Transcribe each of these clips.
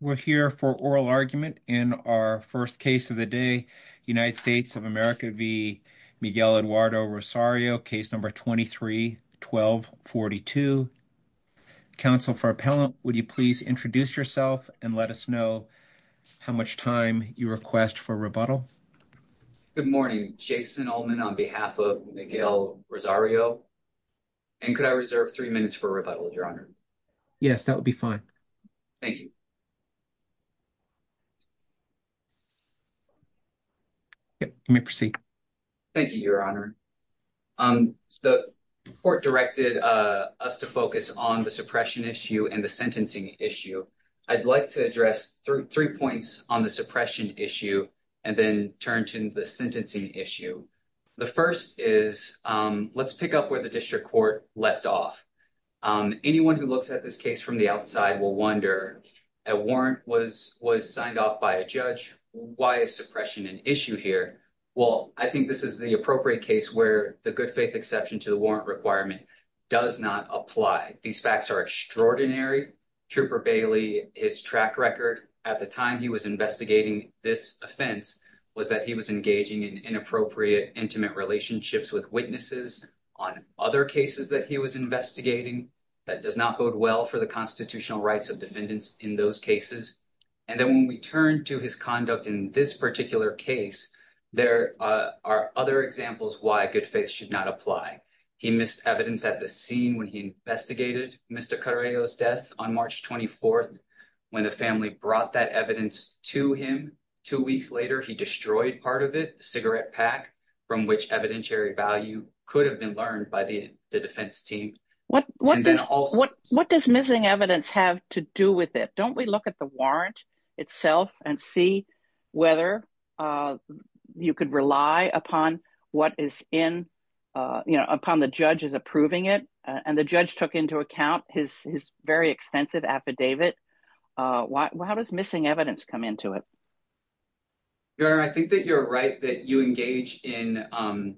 we're here for oral argument in our first case of the day united states of america v miguel eduardo rosario case number 23 12 42 council for appellant would you please introduce yourself and let us know how much time you request for rebuttal good morning jason olman on behalf of miguel rosario and could i reserve three minutes for rebuttal your honor yes that would be fine thank you yep let me proceed thank you your honor um the court directed uh us to focus on the suppression issue and the sentencing issue i'd like to address three three points on the suppression issue and then turn to the sentencing issue the first is um let's pick up where the district court left off um anyone who looks at this case from the outside will wonder a warrant was was signed off by a judge why is suppression an issue here well i think this is the appropriate case where the good faith exception to the warrant requirement does not apply these facts are extraordinary trooper bailey his track record at the time he was investigating this offense was that he was engaging in inappropriate intimate relationships with on other cases that he was investigating that does not bode well for the constitutional rights of defendants in those cases and then when we turn to his conduct in this particular case there are other examples why good faith should not apply he missed evidence at the scene when he investigated mr carrillo's death on march 24th when the family brought that evidence to him two weeks later he destroyed part of it the cigarette pack from which evidentiary value could have been learned by the the defense team what what what does missing evidence have to do with it don't we look at the warrant itself and see whether uh you could rely upon what is in uh you know upon the judge's approving it and the judge took into account his his very extensive affidavit uh why does missing evidence come into it your honor i think that you're right that you engage in um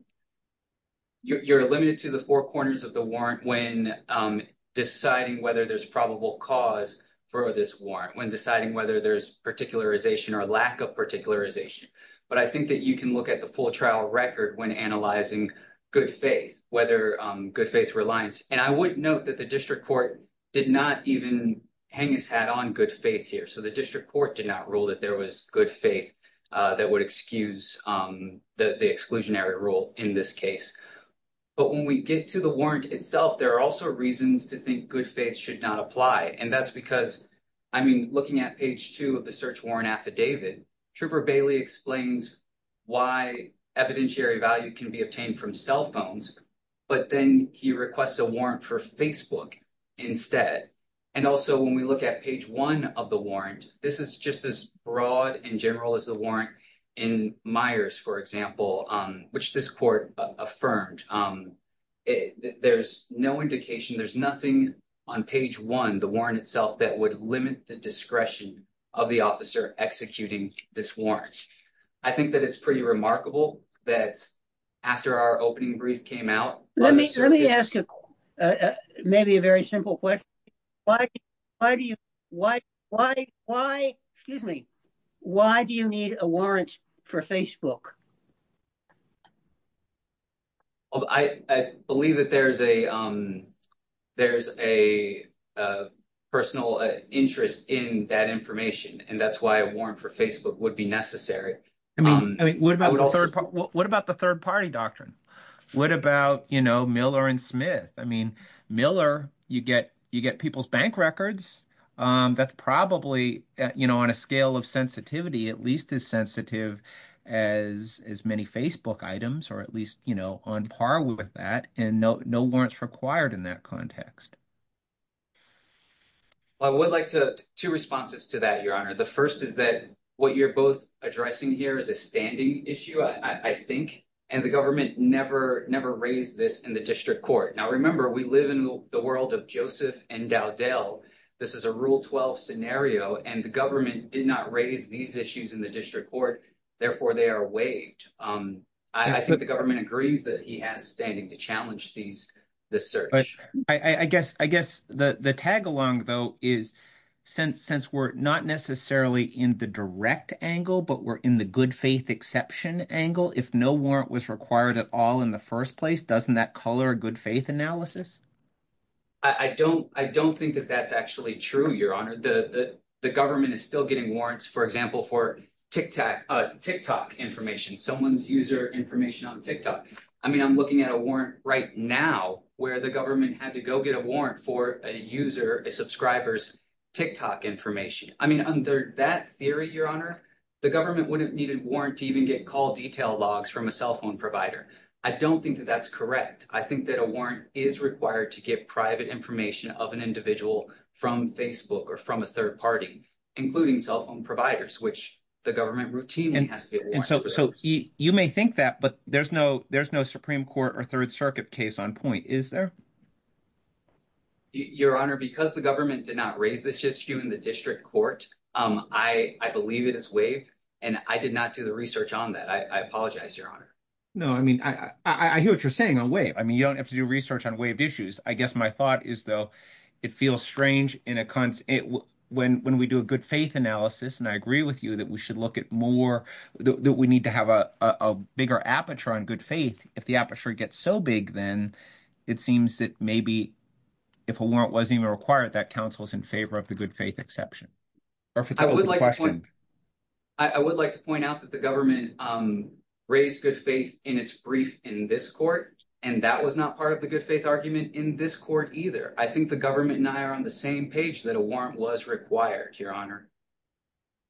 you're limited to the four corners of the warrant when um deciding whether there's probable cause for this warrant when deciding whether there's particularization or lack of particularization but i think that you can look at the full trial record when analyzing good faith whether um good faith reliance and i would note that the district court did not even hang his hat on good faith here so the district court did not rule that there was good faith uh that would excuse um the the exclusionary rule in this case but when we get to the warrant itself there are also reasons to think good faith should not apply and that's because i mean looking at page two of the search warrant affidavit trooper bailey explains why evidentiary value can be obtained from cell phones but then he requests a warrant for facebook instead and also when we look at page one of the warrant this is just as broad and general as the warrant in myers for example um which this court affirmed um there's no indication there's nothing on page one the warrant itself that would limit the discretion of the officer executing this warrant i think that it's pretty remarkable that after our opening brief came out let me let me ask you uh maybe a very simple question why why do you why why why excuse me why do you need a warrant for facebook oh i i believe that there's a um there's a uh personal interest in that information and that's why a warrant for facebook would be necessary i mean i mean what about what about the third party doctrine what about you know miller and smith i mean miller you get you get people's bank records um that's probably you know on a scale of sensitivity at least as sensitive as as many facebook items or at least you know on par with that and no no warrants required in that context i would like to two responses to that your honor the first is that what you're both addressing here is a standing issue i i think and the government never never raised this in the district court now remember we live in the world of joseph and dowdell this is a rule 12 scenario and the government did not raise these issues in the district court therefore they are waived um i think the government agrees that he has standing to challenge these the search i i guess i guess the the tag along though is since since we're not necessarily in the direct angle but we're in the good faith exception angle if no warrant was required at all in the first place doesn't that color a good faith analysis i i don't i don't think that that's actually true your honor the the government is still getting warrants for example for tic tac uh tick tock information someone's user information on tick tock i mean i'm looking at a warrant right now where the government had to go get a warrant for a user a subscriber's tick tock information i mean under that theory your honor the government wouldn't need a warrant to even get call detail logs from a cell phone provider i don't think that that's correct i think that a warrant is required to get private information of an individual from facebook or from a third party including cell phone providers which the government routinely has so you may think that but there's no there's no supreme court or third circuit case on point is there your honor because the government did raise this issue in the district court um i i believe it is waived and i did not do the research on that i i apologize your honor no i mean i i i hear what you're saying on wave i mean you don't have to do research on waived issues i guess my thought is though it feels strange in a constant when when we do a good faith analysis and i agree with you that we should look at more that we need to have a a bigger aperture on good faith if the aperture gets so big then it seems that maybe if a warrant wasn't even required that council's in favor of the good faith exception or if it's a question i would like to point out that the government um raised good faith in its brief in this court and that was not part of the good faith argument in this court either i think the government and i are on the same page that a warrant was required your honor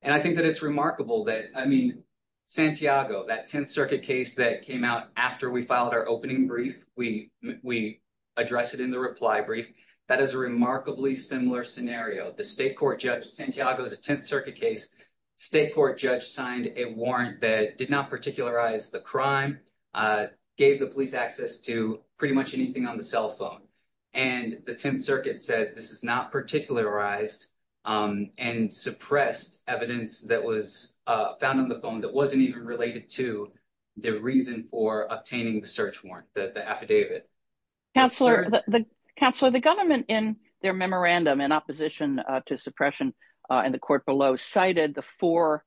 and i think that it's remarkable that i mean santiago that 10th circuit case that came out after we filed our opening brief we we address it in the reply brief that is a remarkably similar scenario the state court judge santiago's 10th circuit case state court judge signed a warrant that did not particularize the crime uh gave the police access to pretty much anything on the cell phone and the 10th circuit said this is not particularized um and suppressed evidence that was uh found on the phone that wasn't even related to the reason for obtaining the search warrant that the affidavit counselor the counselor the government in their memorandum in opposition uh to suppression uh in the court below cited the four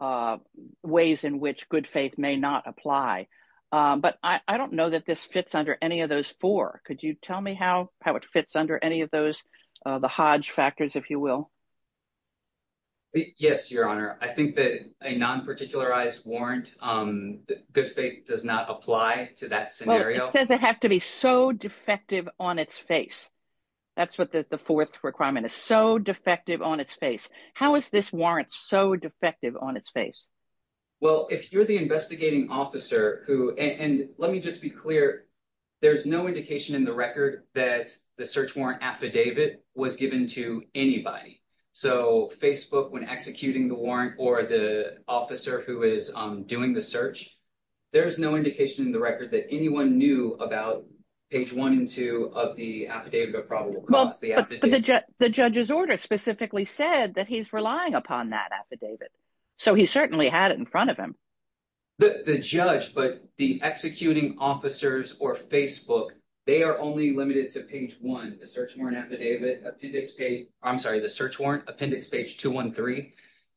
uh ways in which good faith may not apply but i i don't know that this fits under any of those four could you tell me how how it fits under any of those uh the hodge factors if you will yes your honor i think that a non-particularized warrant um good faith does not apply to that scenario it says it has to be so defective on its face that's what the fourth requirement is so defective on its face how is this warrant so defective on its face well if you're the investigating officer who and let me just be clear there's no indication in the record that the search warrant affidavit was given to anybody so facebook when executing the warrant or the officer who is um doing the search there's no indication in the record that anyone knew about page one and two of the affidavit of probable cause the the judge's order specifically said that he's relying upon that affidavit so he certainly had it in front of him the the judge but the executing officers or facebook they are only limited to page one the search warrant affidavit appendix page i'm sorry the search warrant appendix page 213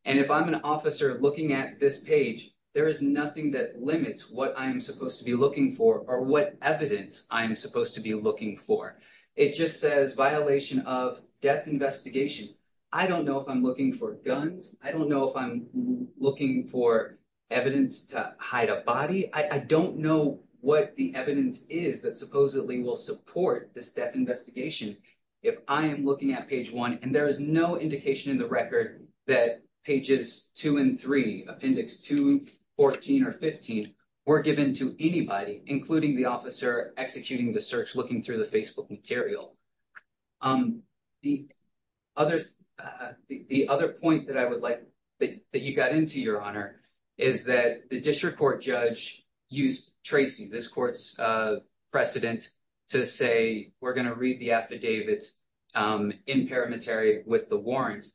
and if i'm an officer looking at this page there is nothing that limits what i'm supposed to be looking for or what evidence i'm supposed to be looking for it just says violation of death investigation i don't know if i'm looking for guns i don't know if i'm looking for evidence to hide a body i don't know what the evidence is that supposedly will support this death investigation if i am looking at page one and there is no indication in the record that pages 2 and 3 appendix 2 14 or 15 were given to anybody including the officer executing the search looking through the facebook material um the other uh the other point that i would like that you got into your honor is that the district court judge used tracy this court's uh precedent to say we're going to read the affidavit um in parametary with the warrants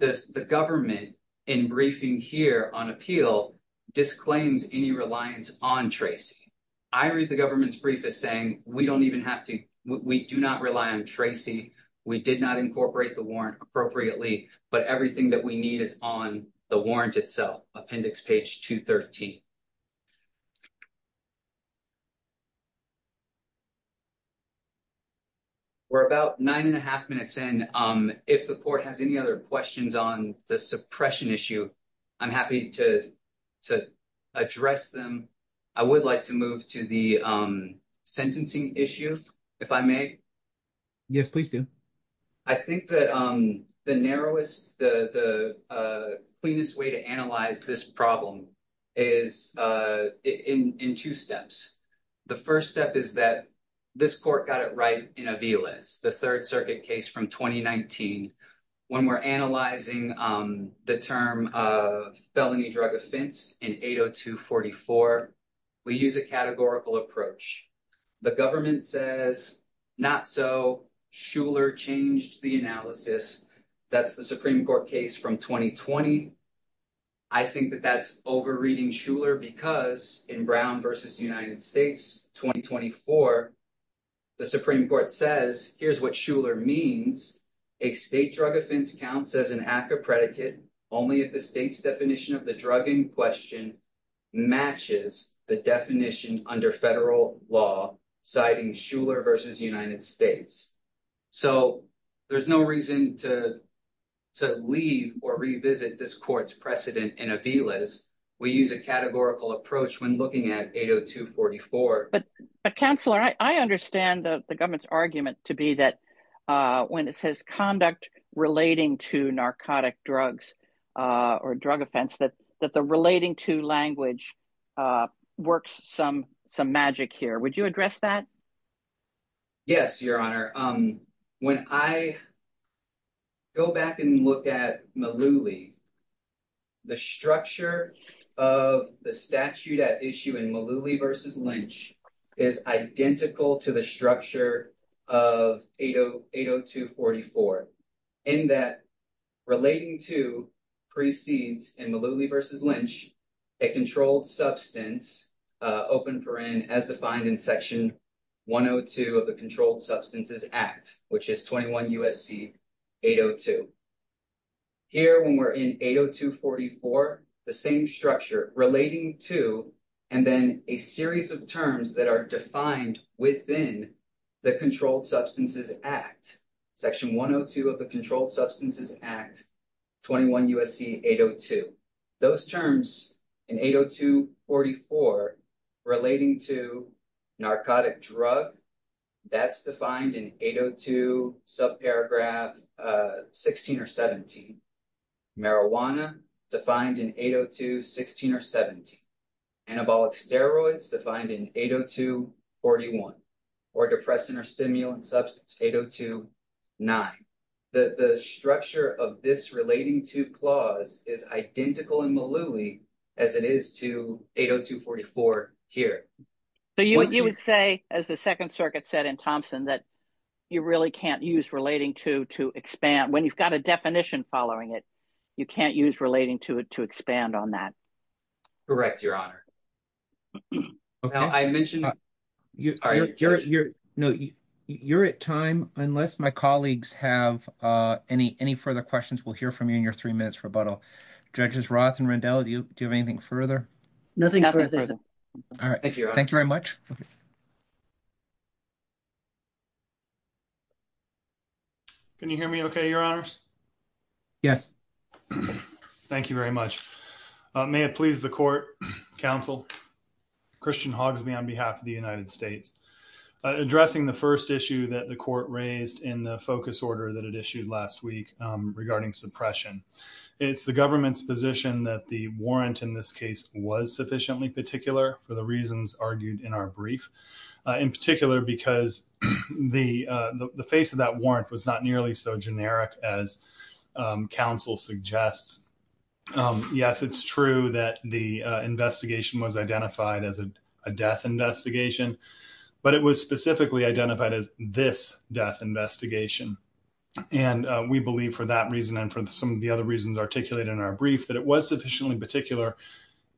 this the government in briefing here on appeal disclaims any reliance on tracy i read the government's brief is saying we don't even have to we do not rely on tracy we did not incorporate the warrant appropriately but everything that we need is on the warrant itself appendix page 213 we're about nine and a half minutes in um if the court has any other questions on the suppression issue i'm happy to to address them i would like to move to the um sentencing issue if i may yes please do i think that um the narrowest the the cleanest way to analyze this problem is uh in in two steps the first step is that this court got it right in a v-list the third circuit case from 2019 when we're analyzing um the term of felony drug offense in 802 44 we use a categorical approach the government says not so schuler changed the analysis that's the supreme court case from 2020 i think that that's over reading schuler because in brown versus united states 2024 the supreme court says here's what schuler means a state drug offense counts as an act of predicate only if the state's definition of the drug in question matches the definition under federal law citing schuler versus united states so there's no reason to to leave or revisit this court's precedent in a v-list we use a categorical approach when looking at 802 44 but counselor i understand the government's argument to be that uh when it says conduct relating to narcotic drugs uh or drug offense that that the relating to language uh works some some magic here would you address that yes your honor um when i go back and look at malooly the structure of the statute at issue malooly versus lynch is identical to the structure of 802 44 in that relating to precedes in malooly versus lynch a controlled substance uh open for in as defined in section 102 of the controlled substances act which is 21 usc 802 here when we're in 802 44 the same structure relating to and then a series of terms that are defined within the controlled substances act section 102 of the controlled substances act 21 usc 802 those terms in 802 44 relating to narcotic drug that's defined in 802 subparagraph uh 16 or 17 marijuana defined in 802 16 or 17 anabolic steroids defined in 802 41 or depressant or stimulant substance 802 9 the the structure of this relating to clause is identical in malooly as it is to 802 44 here so you would say as the second circuit said in thompson that you really can't use relating to to expand when you've got a definition following it you can't use relating to it to expand on that correct your honor okay i mentioned you are you're you're no you you're at time unless my colleagues have uh any any further questions we'll hear from you in your three minutes rebuttal judges roth and randell do you do you have anything further nothing all right thank you thank you very much okay can you hear me okay your honors yes thank you very much may it please the court counsel christian hogs me on behalf of the united states addressing the first issue that the court raised in the focus order that it issued last week regarding suppression it's the government's position that the warrant in this case was sufficiently particular for the reasons argued in our brief in particular because the the face of that warrant was not nearly so generic as counsel suggests yes it's true that the investigation was identified as a death investigation but it was specifically identified as this death investigation and we believe for that reason and for some of the other reasons articulated in our brief that it was sufficiently particular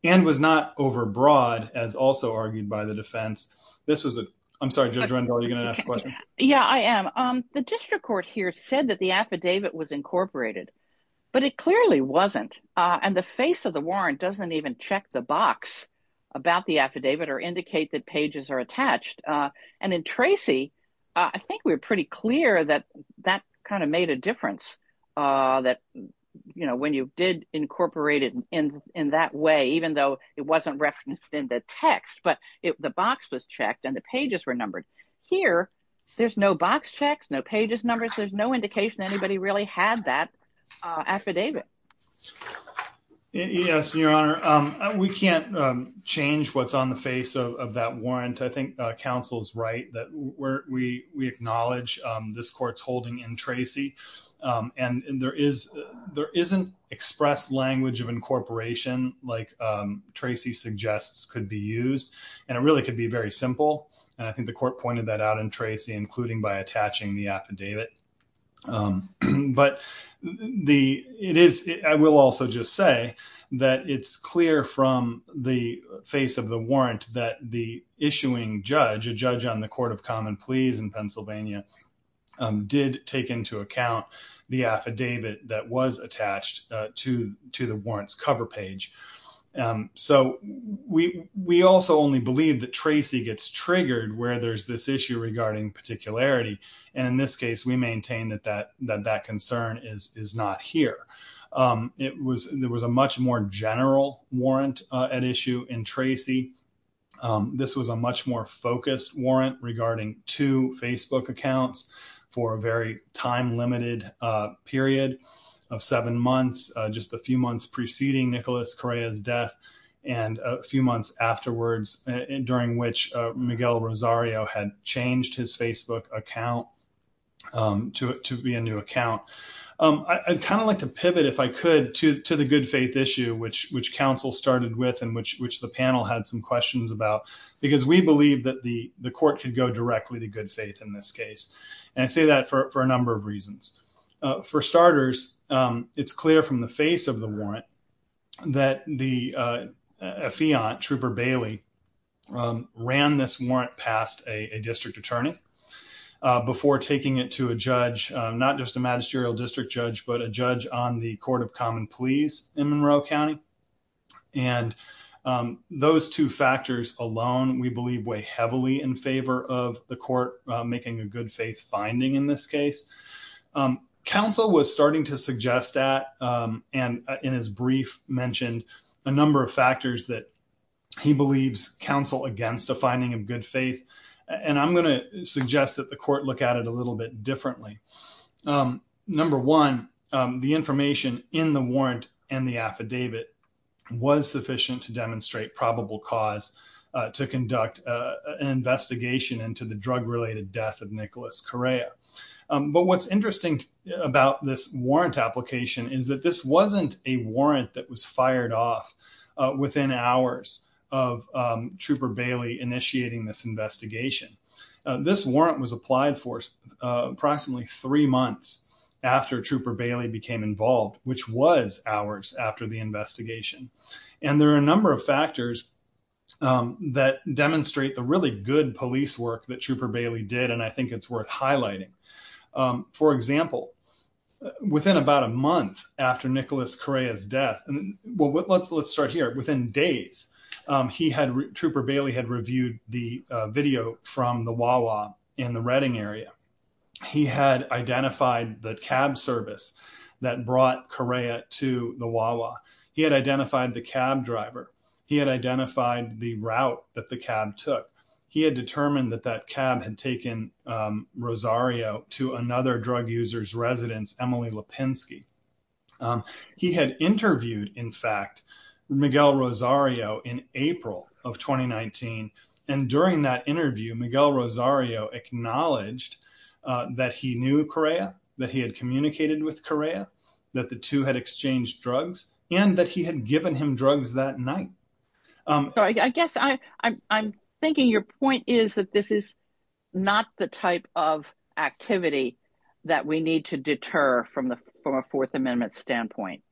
and was not overbroad as also argued by the defense this was a i'm sorry judge randall you're going to ask a question yeah i am um the district court here said that the affidavit was incorporated but it clearly wasn't uh and the face of the warrant doesn't even check the box about the affidavit or indicate that pages are attached uh and in tracy i think we were pretty clear that that kind of made a difference uh that you know when you did incorporate it in in that way even though it wasn't referenced in the text but if the box was checked and the pages were numbered here there's no box checks no pages numbers there's no indication anybody really had that uh affidavit yes your honor um we can't um change what's on the face of that warrant i think uh counsel's right that where we we acknowledge this court's holding in tracy um and there is there isn't expressed language of incorporation like um tracy suggests could be used and it really could be very simple and i think the court pointed that out in tracy including by attaching the affidavit um but the it is i will also just say that it's clear from the face of the warrant that the issuing judge a judge on court of common pleas in pennsylvania did take into account the affidavit that was attached to to the warrants cover page um so we we also only believe that tracy gets triggered where there's this issue regarding particularity and in this case we maintain that that that that concern is is not here um it was there was a much more general warrant at issue in tracy um this was a two facebook accounts for a very time limited uh period of seven months uh just a few months preceding nicolas correa's death and a few months afterwards during which uh miguel rosario had changed his facebook account um to to be a new account um i'd kind of like to pivot if i could to to the good faith issue which which council started with and which which the panel had some questions about because we believe that the the court could go directly to good faith in this case and i say that for a number of reasons for starters um it's clear from the face of the warrant that the uh a fiant trooper bailey um ran this warrant past a district attorney before taking it to a judge not just a magisterial district judge but a judge on the court of common pleas in monroe county and those two factors alone we believe weigh heavily in favor of the court making a good faith finding in this case council was starting to suggest that and in his brief mentioned a number of factors that he believes counsel against a finding of good faith and i'm going to suggest that the court look at it a little bit differently um number one the information in the warrant and the affidavit was sufficient to demonstrate probable cause to conduct an investigation into the drug-related death of nicholas correa but what's interesting about this warrant application is that this wasn't a warrant that was fired off within hours of trooper bailey initiating this investigation this warrant was uh approximately three months after trooper bailey became involved which was hours after the investigation and there are a number of factors um that demonstrate the really good police work that trooper bailey did and i think it's worth highlighting um for example within about a month after nicholas correa's death and well let's let's start here within days um he had trooper bailey had reviewed the video from the wawa in the redding area he had identified the cab service that brought correa to the wawa he had identified the cab driver he had identified the route that the cab took he had determined that that cab had taken um rosario to another drug users residence emily lapinski he had interviewed in fact miguel rosario in april of 2019 and during that interview miguel rosario acknowledged that he knew correa that he had communicated with correa that the two had exchanged drugs and that he had given him drugs that night so i guess i i'm thinking your point is that this is not the type of activity that we need to deter from the from a fourth amendment standpoint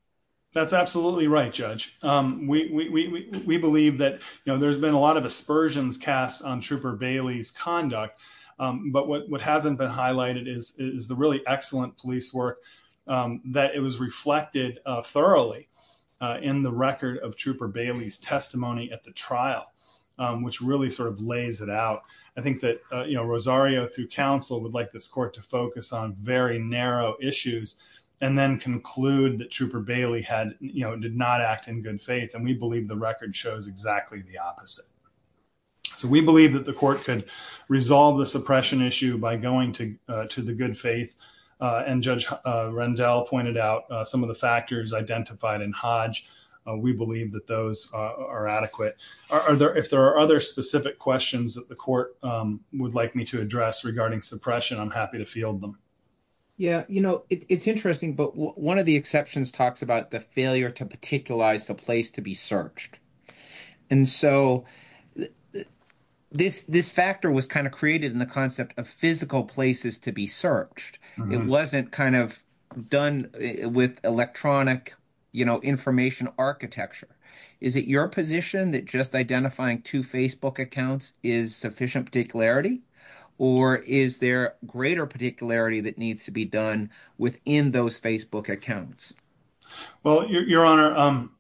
that's absolutely right judge um we we we believe that you know there's been a lot of aspersions cast on trooper bailey's conduct um but what what hasn't been highlighted is is the really excellent police work um that it was reflected uh thoroughly uh in the record of bailey's testimony at the trial which really sort of lays it out i think that you know rosario through council would like this court to focus on very narrow issues and then conclude that trooper bailey had you know did not act in good faith and we believe the record shows exactly the opposite so we believe that the court could resolve the suppression issue by going to to the good and judge rendell pointed out some of the factors identified in hodge we believe that those are adequate are there if there are other specific questions that the court would like me to address regarding suppression i'm happy to field them yeah you know it's interesting but one of the exceptions talks about the failure to particularize the place to be searched and so this this factor was kind of created in the concept of physical places to be searched it wasn't kind of done with electronic you know information architecture is it your position that just identifying two facebook accounts is sufficient particularity or is there greater particularity that needs to be done within those facebook accounts well your honor um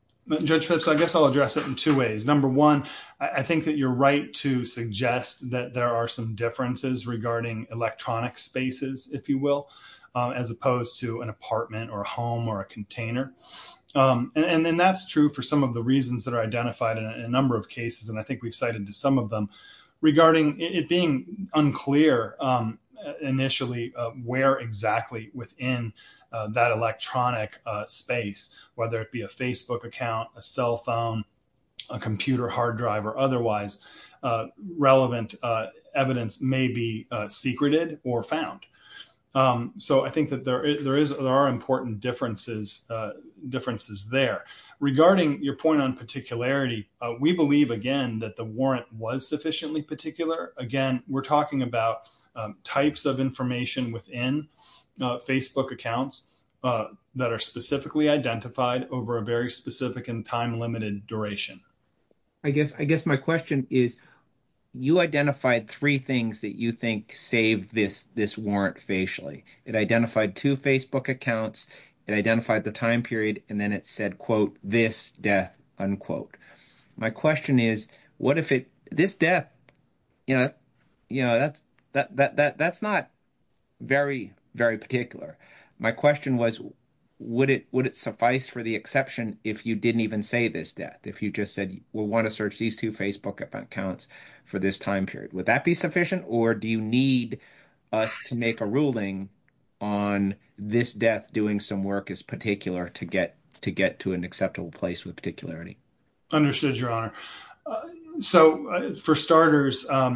judge philips i guess i'll address it in two ways number one i think that you're right to suggest that there are some differences regarding electronic spaces if you will as opposed to an apartment or a home or a container and that's true for some of the reasons that are identified in a number of cases and i think we've cited to some of them regarding it being unclear initially where exactly within that electronic space whether it be a account a cell phone a computer hard drive or otherwise relevant evidence may be secreted or found so i think that there is there is there are important differences differences there regarding your point on particularity we believe again that the warrant was sufficiently particular again we're talking about types of information within facebook accounts that are specifically identified over a very specific and time limited duration i guess i guess my question is you identified three things that you think saved this this warrant facially it identified two facebook accounts it identified the time period and then it said quote this death unquote my question is what if it this death you know you know that's that that that's not very very particular my question was would it would it suffice for the exception if you didn't even say this death if you just said we want to search these two facebook accounts for this time period would that be sufficient or do you need us to make a ruling on this death doing some work as particular to get to get to an acceptable place with particularity understood your honor so for starters i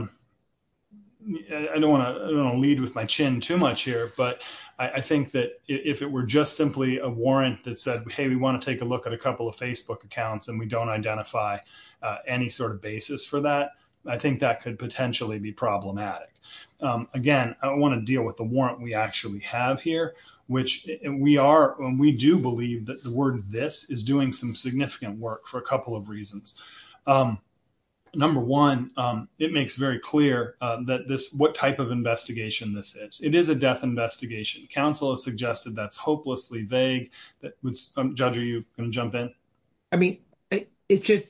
don't want to lead with my chin too much here but i think that if it were just simply a warrant that said hey we want to take a look at a couple of facebook accounts and we don't identify any sort of basis for that i think that could potentially be problematic again i want to deal with the warrant we actually have here which we are and we do believe that the word this is doing some significant work for a couple of reasons number one it makes very clear that this what type of investigation this is it is a death investigation council has suggested that's hopelessly vague that would judge are you going to jump in i mean it's just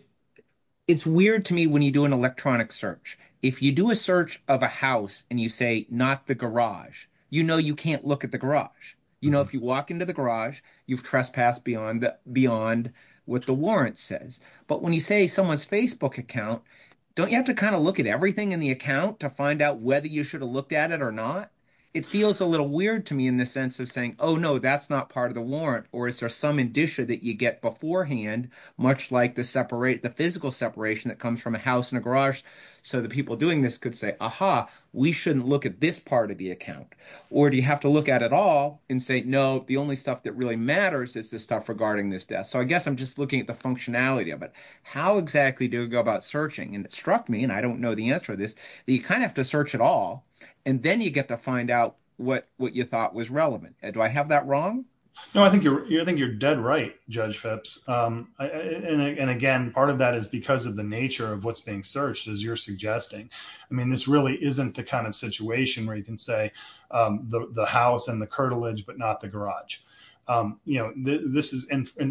it's weird to me when you do an electronic search if you do a search of a house and you say not the garage you know you can't look at the garage you know if you walk into the garage you've trespassed beyond beyond what the warrant says but when you say someone's facebook account don't you have to kind of look everything in the account to find out whether you should have looked at it or not it feels a little weird to me in the sense of saying oh no that's not part of the warrant or is there some indicia that you get beforehand much like the separate the physical separation that comes from a house and a garage so the people doing this could say aha we shouldn't look at this part of the account or do you have to look at it all and say no the only stuff that really matters is this stuff regarding this death so i guess i'm just looking at the functionality of it how exactly do we go searching and it struck me and i don't know the answer to this you kind of have to search it all and then you get to find out what what you thought was relevant do i have that wrong no i think you're i think you're dead right judge phipps um and again part of that is because of the nature of what's being searched as you're suggesting i mean this really isn't the kind of situation where you can say um the the house and the curtilage but not the garage um you know this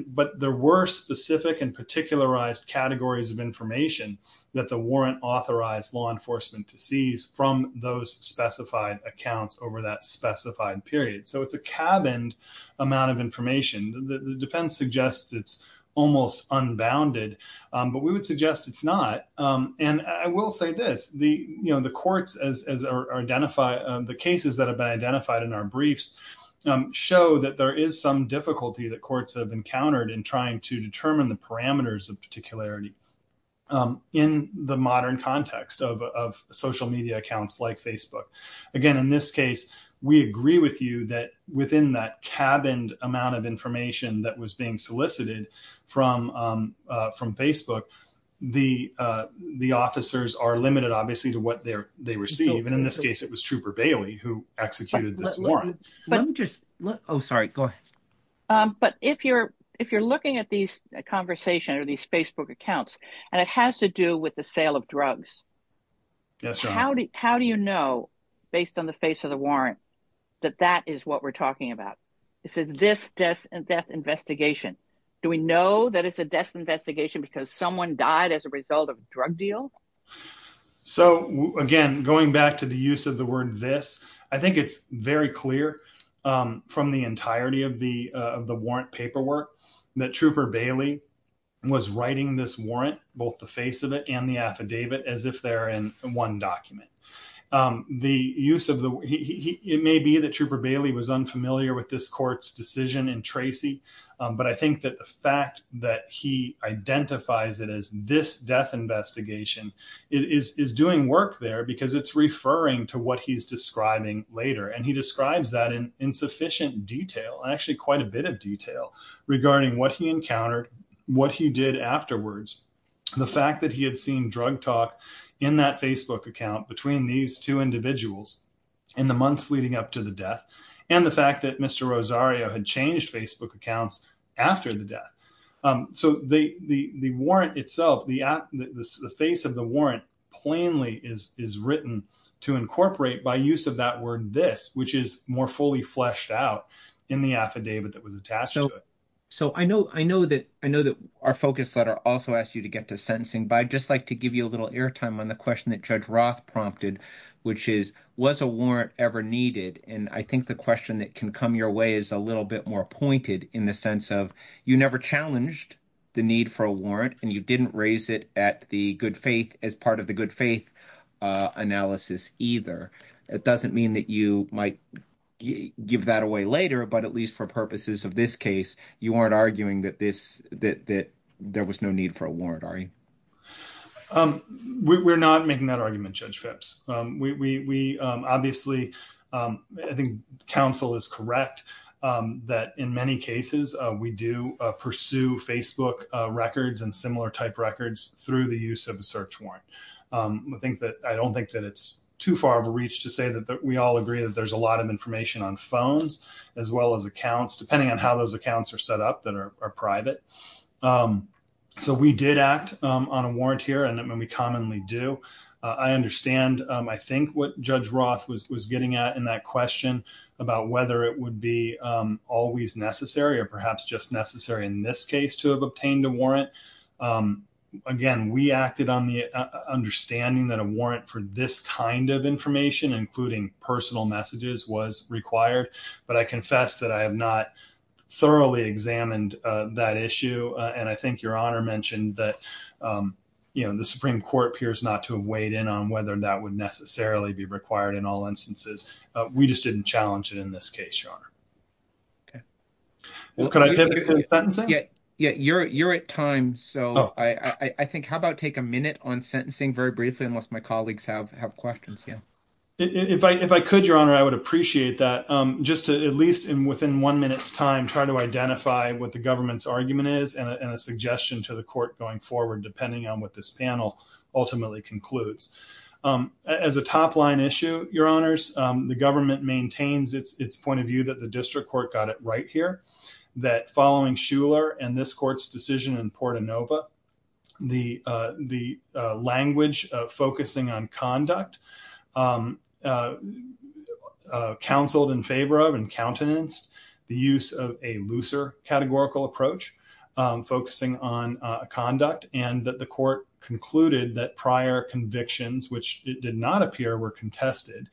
but there were specific and particularized categories of information that the warrant authorized law enforcement to seize from those specified accounts over that specified period so it's a cabined amount of information the defense suggests it's almost unbounded um but we would suggest it's not um and i will say this the you know the courts as are identified the cases that identified in our briefs show that there is some difficulty that courts have encountered in trying to determine the parameters of particularity um in the modern context of of social media accounts like facebook again in this case we agree with you that within that cabined amount of information that was being solicited from um from facebook the uh the officers are limited obviously to what they're they receive and in this case it was trooper bailey who executed this warrant let me just oh sorry go ahead um but if you're if you're looking at these conversation or these facebook accounts and it has to do with the sale of drugs yes how do you know based on the face of the warrant that that is what we're talking about this is this death and death investigation do we know that it's a death investigation because someone died as a result of drug deal so again going back to the use of the word this i think it's very clear um from the entirety of the of the warrant paperwork that trooper bailey was writing this warrant both the face of it and the affidavit as if they're in one document um the use of the it may be that trooper bailey was unfamiliar with this court's decision in tracy but i think that the fact that he identifies it as this death investigation is is doing work there because it's referring to what he's describing later and he describes that in insufficient detail actually quite a bit of detail regarding what he encountered what he did afterwards the fact that he had seen drug talk in that facebook account between these two individuals in the months leading up to the death and the fact that mr rosario had changed facebook accounts after the death um so the the the warrant itself the app the face of the warrant plainly is is written to incorporate by use of that word this which is more fully fleshed out in the affidavit that was attached so i know i know that i know that our focus letter also asked you to get to sentencing but i'd just like to give you a little airtime on the question that judge prompted which is was a warrant ever needed and i think the question that can come your way is a little bit more pointed in the sense of you never challenged the need for a warrant and you didn't raise it at the good faith as part of the good faith uh analysis either it doesn't mean that you might give that away later but at least for purposes of this case you aren't arguing that that that there was no need for a warrant are you um we're not making that argument judge phipps um we we um obviously um i think counsel is correct um that in many cases uh we do pursue facebook records and similar type records through the use of a search warrant um i think that i don't think that it's too far of a reach to say that we all agree that there's a lot of information on phones as well as accounts depending on how those accounts are set up that are private um so we did act um on a warrant here and when we commonly do i understand um i think what judge roth was was getting at in that question about whether it would be um always necessary or perhaps just necessary in this case to have obtained a warrant um again we acted on the understanding that a but i confess that i have not thoroughly examined uh that issue and i think your honor mentioned that um you know the supreme court appears not to have weighed in on whether that would necessarily be required in all instances uh we just didn't challenge it in this case your honor okay well could i typically sentencing yeah yeah you're you're at time so i i think how about take a minute on sentencing very briefly unless my colleagues have have questions yeah if i if i at least in within one minute's time try to identify what the government's argument is and a suggestion to the court going forward depending on what this panel ultimately concludes um as a top line issue your honors um the government maintains its its point of view that the district court got it right here that following schuler and this court's decision in port anova the uh the uh language uh focusing on conduct um uh uh counseled in favor of and countenanced the use of a looser categorical approach um focusing on uh conduct and that the court concluded that prior convictions which did not appear were contested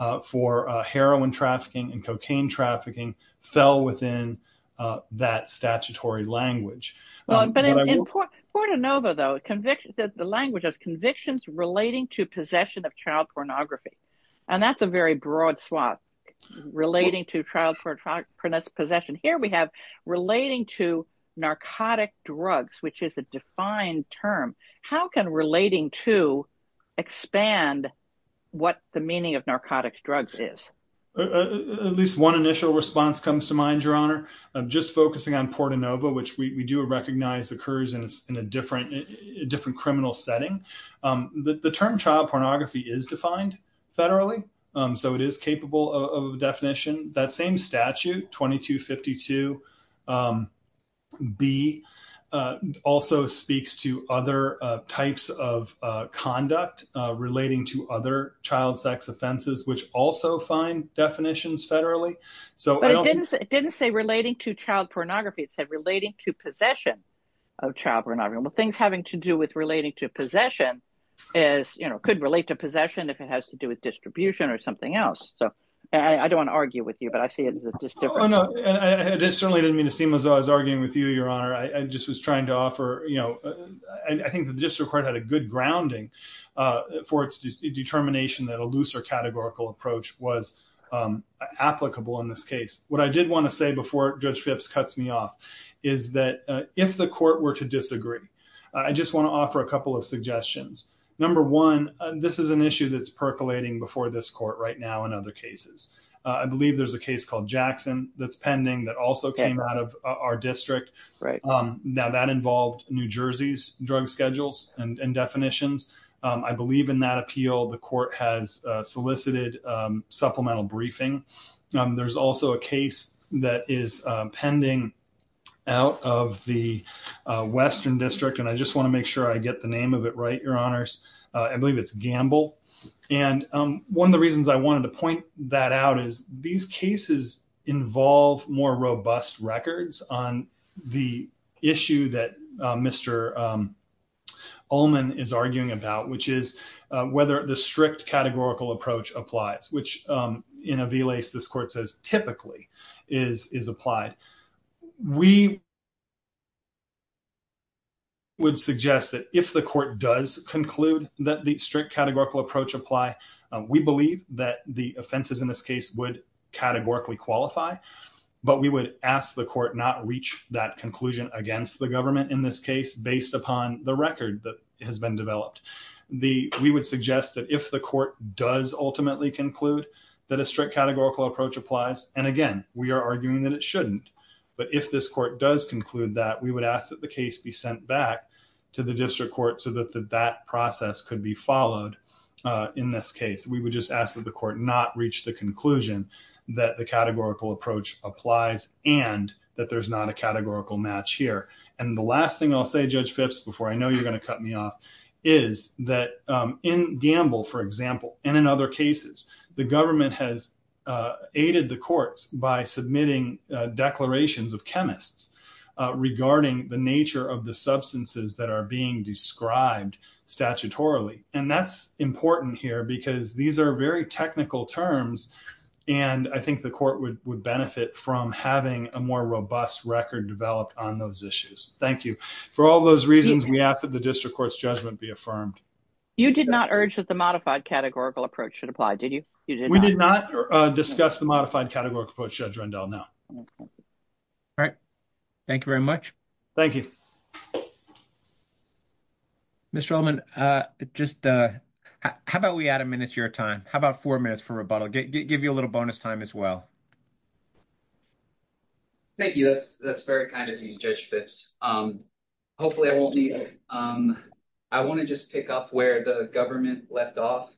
uh for heroin trafficking and cocaine trafficking fell within uh that statutory language but in port anova though conviction that the language of convictions relating to possession of child pornography and that's a very broad swath relating to child for possession here we have relating to narcotic drugs which is a defined term how can relating to expand what the meaning of narcotics drugs is at least one initial response comes to mind your honor i'm just focusing on port anova which we do recognize occurs in a different different criminal setting um the term child pornography is defined federally um so it is capable of definition that same statute 22 52 um b uh also speaks to other uh types of uh conduct uh relating to other child sex offenses which also find definitions federally so it didn't say relating to child pornography it said relating to possession of child pornography well things having to do with relating to possession is you know could relate to possession if it has to do with distribution or something else so i don't want to argue with you but i see it oh no and it certainly didn't mean to seem as though i was arguing with you your honor i just was trying to offer you know i think the district court had a good grounding uh for its determination that a looser categorical approach was um applicable in this case what i did want to say before judge phipps cuts me off is that if the court were to disagree i just want to offer a couple of suggestions number one this is an issue that's percolating before this court right now in other cases i believe there's a case called jackson that's pending that also came out of our district right um now that involved new jersey's drug schedules and and definitions um i believe in that appeal the court has solicited um supplemental briefing um there's also a case that is pending out of the western district and i just want to and um one of the reasons i wanted to point that out is these cases involve more robust records on the issue that mr um allman is arguing about which is whether the strict categorical approach applies which um in a v-lace this court says typically is is applied we would suggest that if the court does conclude that the strict categorical approach apply we believe that the offenses in this case would categorically qualify but we would ask the court not reach that conclusion against the government in this case based upon the record that has been developed the we would suggest that if the court does ultimately conclude that a strict categorical approach applies and again we are arguing that it shouldn't but if this court does conclude that we would ask that the case be sent back to the district court so that that process could be followed uh in this case we would just ask that the court not reach the conclusion that the categorical approach applies and that there's not a categorical match here and the last thing i'll say judge phipps before i know you're going to cut me off is that um in gamble for example and in other cases the government has uh aided the courts by submitting uh declarations of chemists uh regarding the nature of the substances that are being described statutorily and that's important here because these are very technical terms and i think the court would benefit from having a more robust record developed on those issues thank you for all those reasons we ask that the district court's judgment be affirmed you did not urge that the modified categorical approach should apply did you we did not discuss the modified categorical approach judge rundell now all right thank you very much thank you mr ellman uh just uh how about we add a minute to your time how about four minutes for rebuttal give you a little bonus time as well thank you that's that's very kind of you judge phipps um hopefully i won't need it um i want to just pick up where the government left off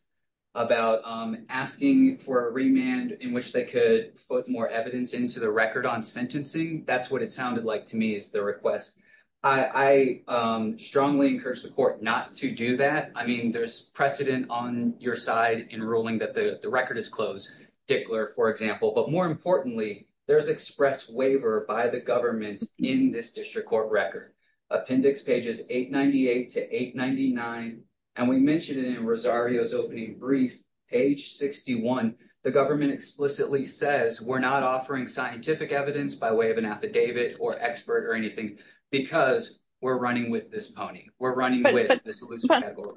about um asking for a remand in which they could put more evidence into the record on sentencing that's what it sounded like to me is the request i i um strongly encourage the court not to do that i mean there's precedent on your side in ruling that the the record is closed dickler for example but more importantly there's express waiver by the government in this district court record appendix pages 898 to 899 and we mentioned it in rosario's opening brief page 61 the government explicitly says we're not offering scientific evidence by way of an affidavit or expert or anything because we're running with this pony we're running with this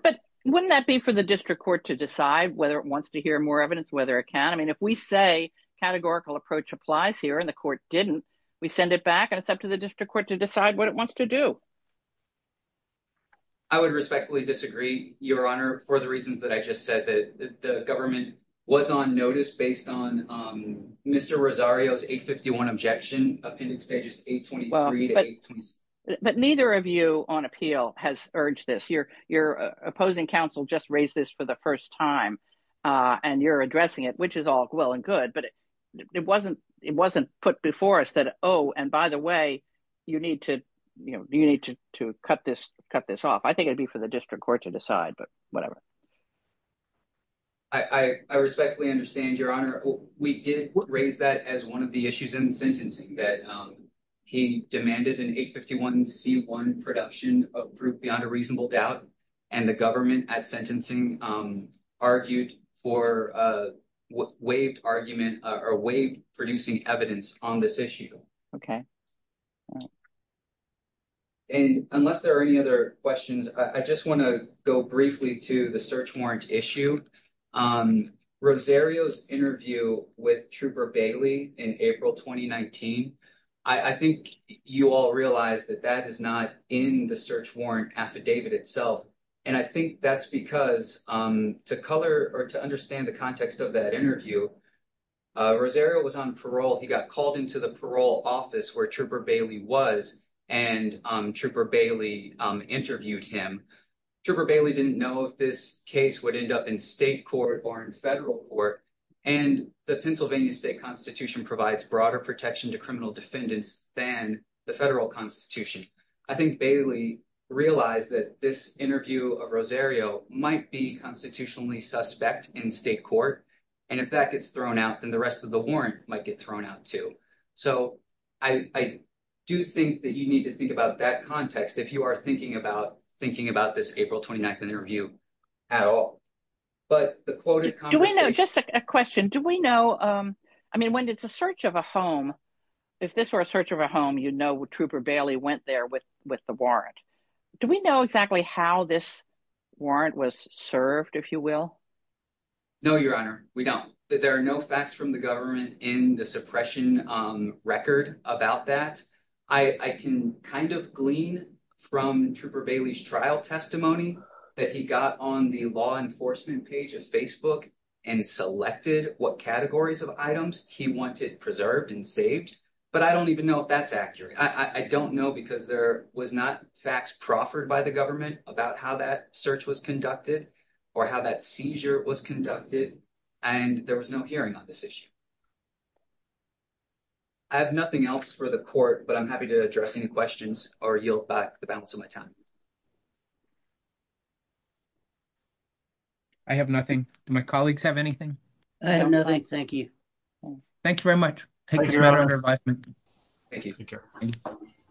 but wouldn't that be for the district court to decide whether it wants to hear more evidence whether it can i mean if we say categorical approach applies here and the court didn't we send it back and it's up to the district court to decide what it wants to do i would respectfully disagree your honor for the reasons that i just said that the government was on notice based on um mr rosario's 851 objection appendix pages 823 but neither of you on appeal has urged this your your opposing counsel just raised this for the first time uh and you're addressing it which is all well and good but it wasn't it wasn't put before us that oh and by the way you need to you know you need to to cut this cut this off i think it'd be for the district court to decide but whatever i i respectfully understand your honor we did raise that as one of the issues in sentencing that um he demanded an 851 c1 production of proof beyond a reasonable doubt and the government at sentencing um argued for uh waived argument or wave producing evidence on this issue okay and unless there are any other questions i just want to go briefly to the search warrant issue um rosario's interview with trooper bailey in april 2019 i i think you all realize that that is not in the search warrant affidavit itself and i think that's because um to color or to understand the context of that interview uh rosario was on parole he got called into the parole office where trooper bailey was and um trooper bailey um interviewed him trooper bailey didn't know if this case would end up in state court or in federal court and the pennsylvania state constitution provides broader protection to criminal defendants than the federal constitution i think bailey realized that this interview of rosario might be constitutionally suspect in state court and if that gets thrown out then the rest of the warrant might get thrown out too so i i do think that you need to think about that context if you are thinking about thinking about this april 29th interview at all but the quoted conversation just a question do we know um i mean when it's a search of a home if this were a search of a home you'd know what with the warrant do we know exactly how this warrant was served if you will no your honor we don't that there are no facts from the government in the suppression um record about that i i can kind of glean from trooper bailey's trial testimony that he got on the law enforcement page of facebook and selected what categories of items he wanted preserved and saved but i don't even know if that's accurate i i don't know because there was not facts proffered by the government about how that search was conducted or how that seizure was conducted and there was no hearing on this issue i have nothing else for the court but i'm happy to address any questions or yield back the balance of my time i have nothing do my colleagues have anything i have thank you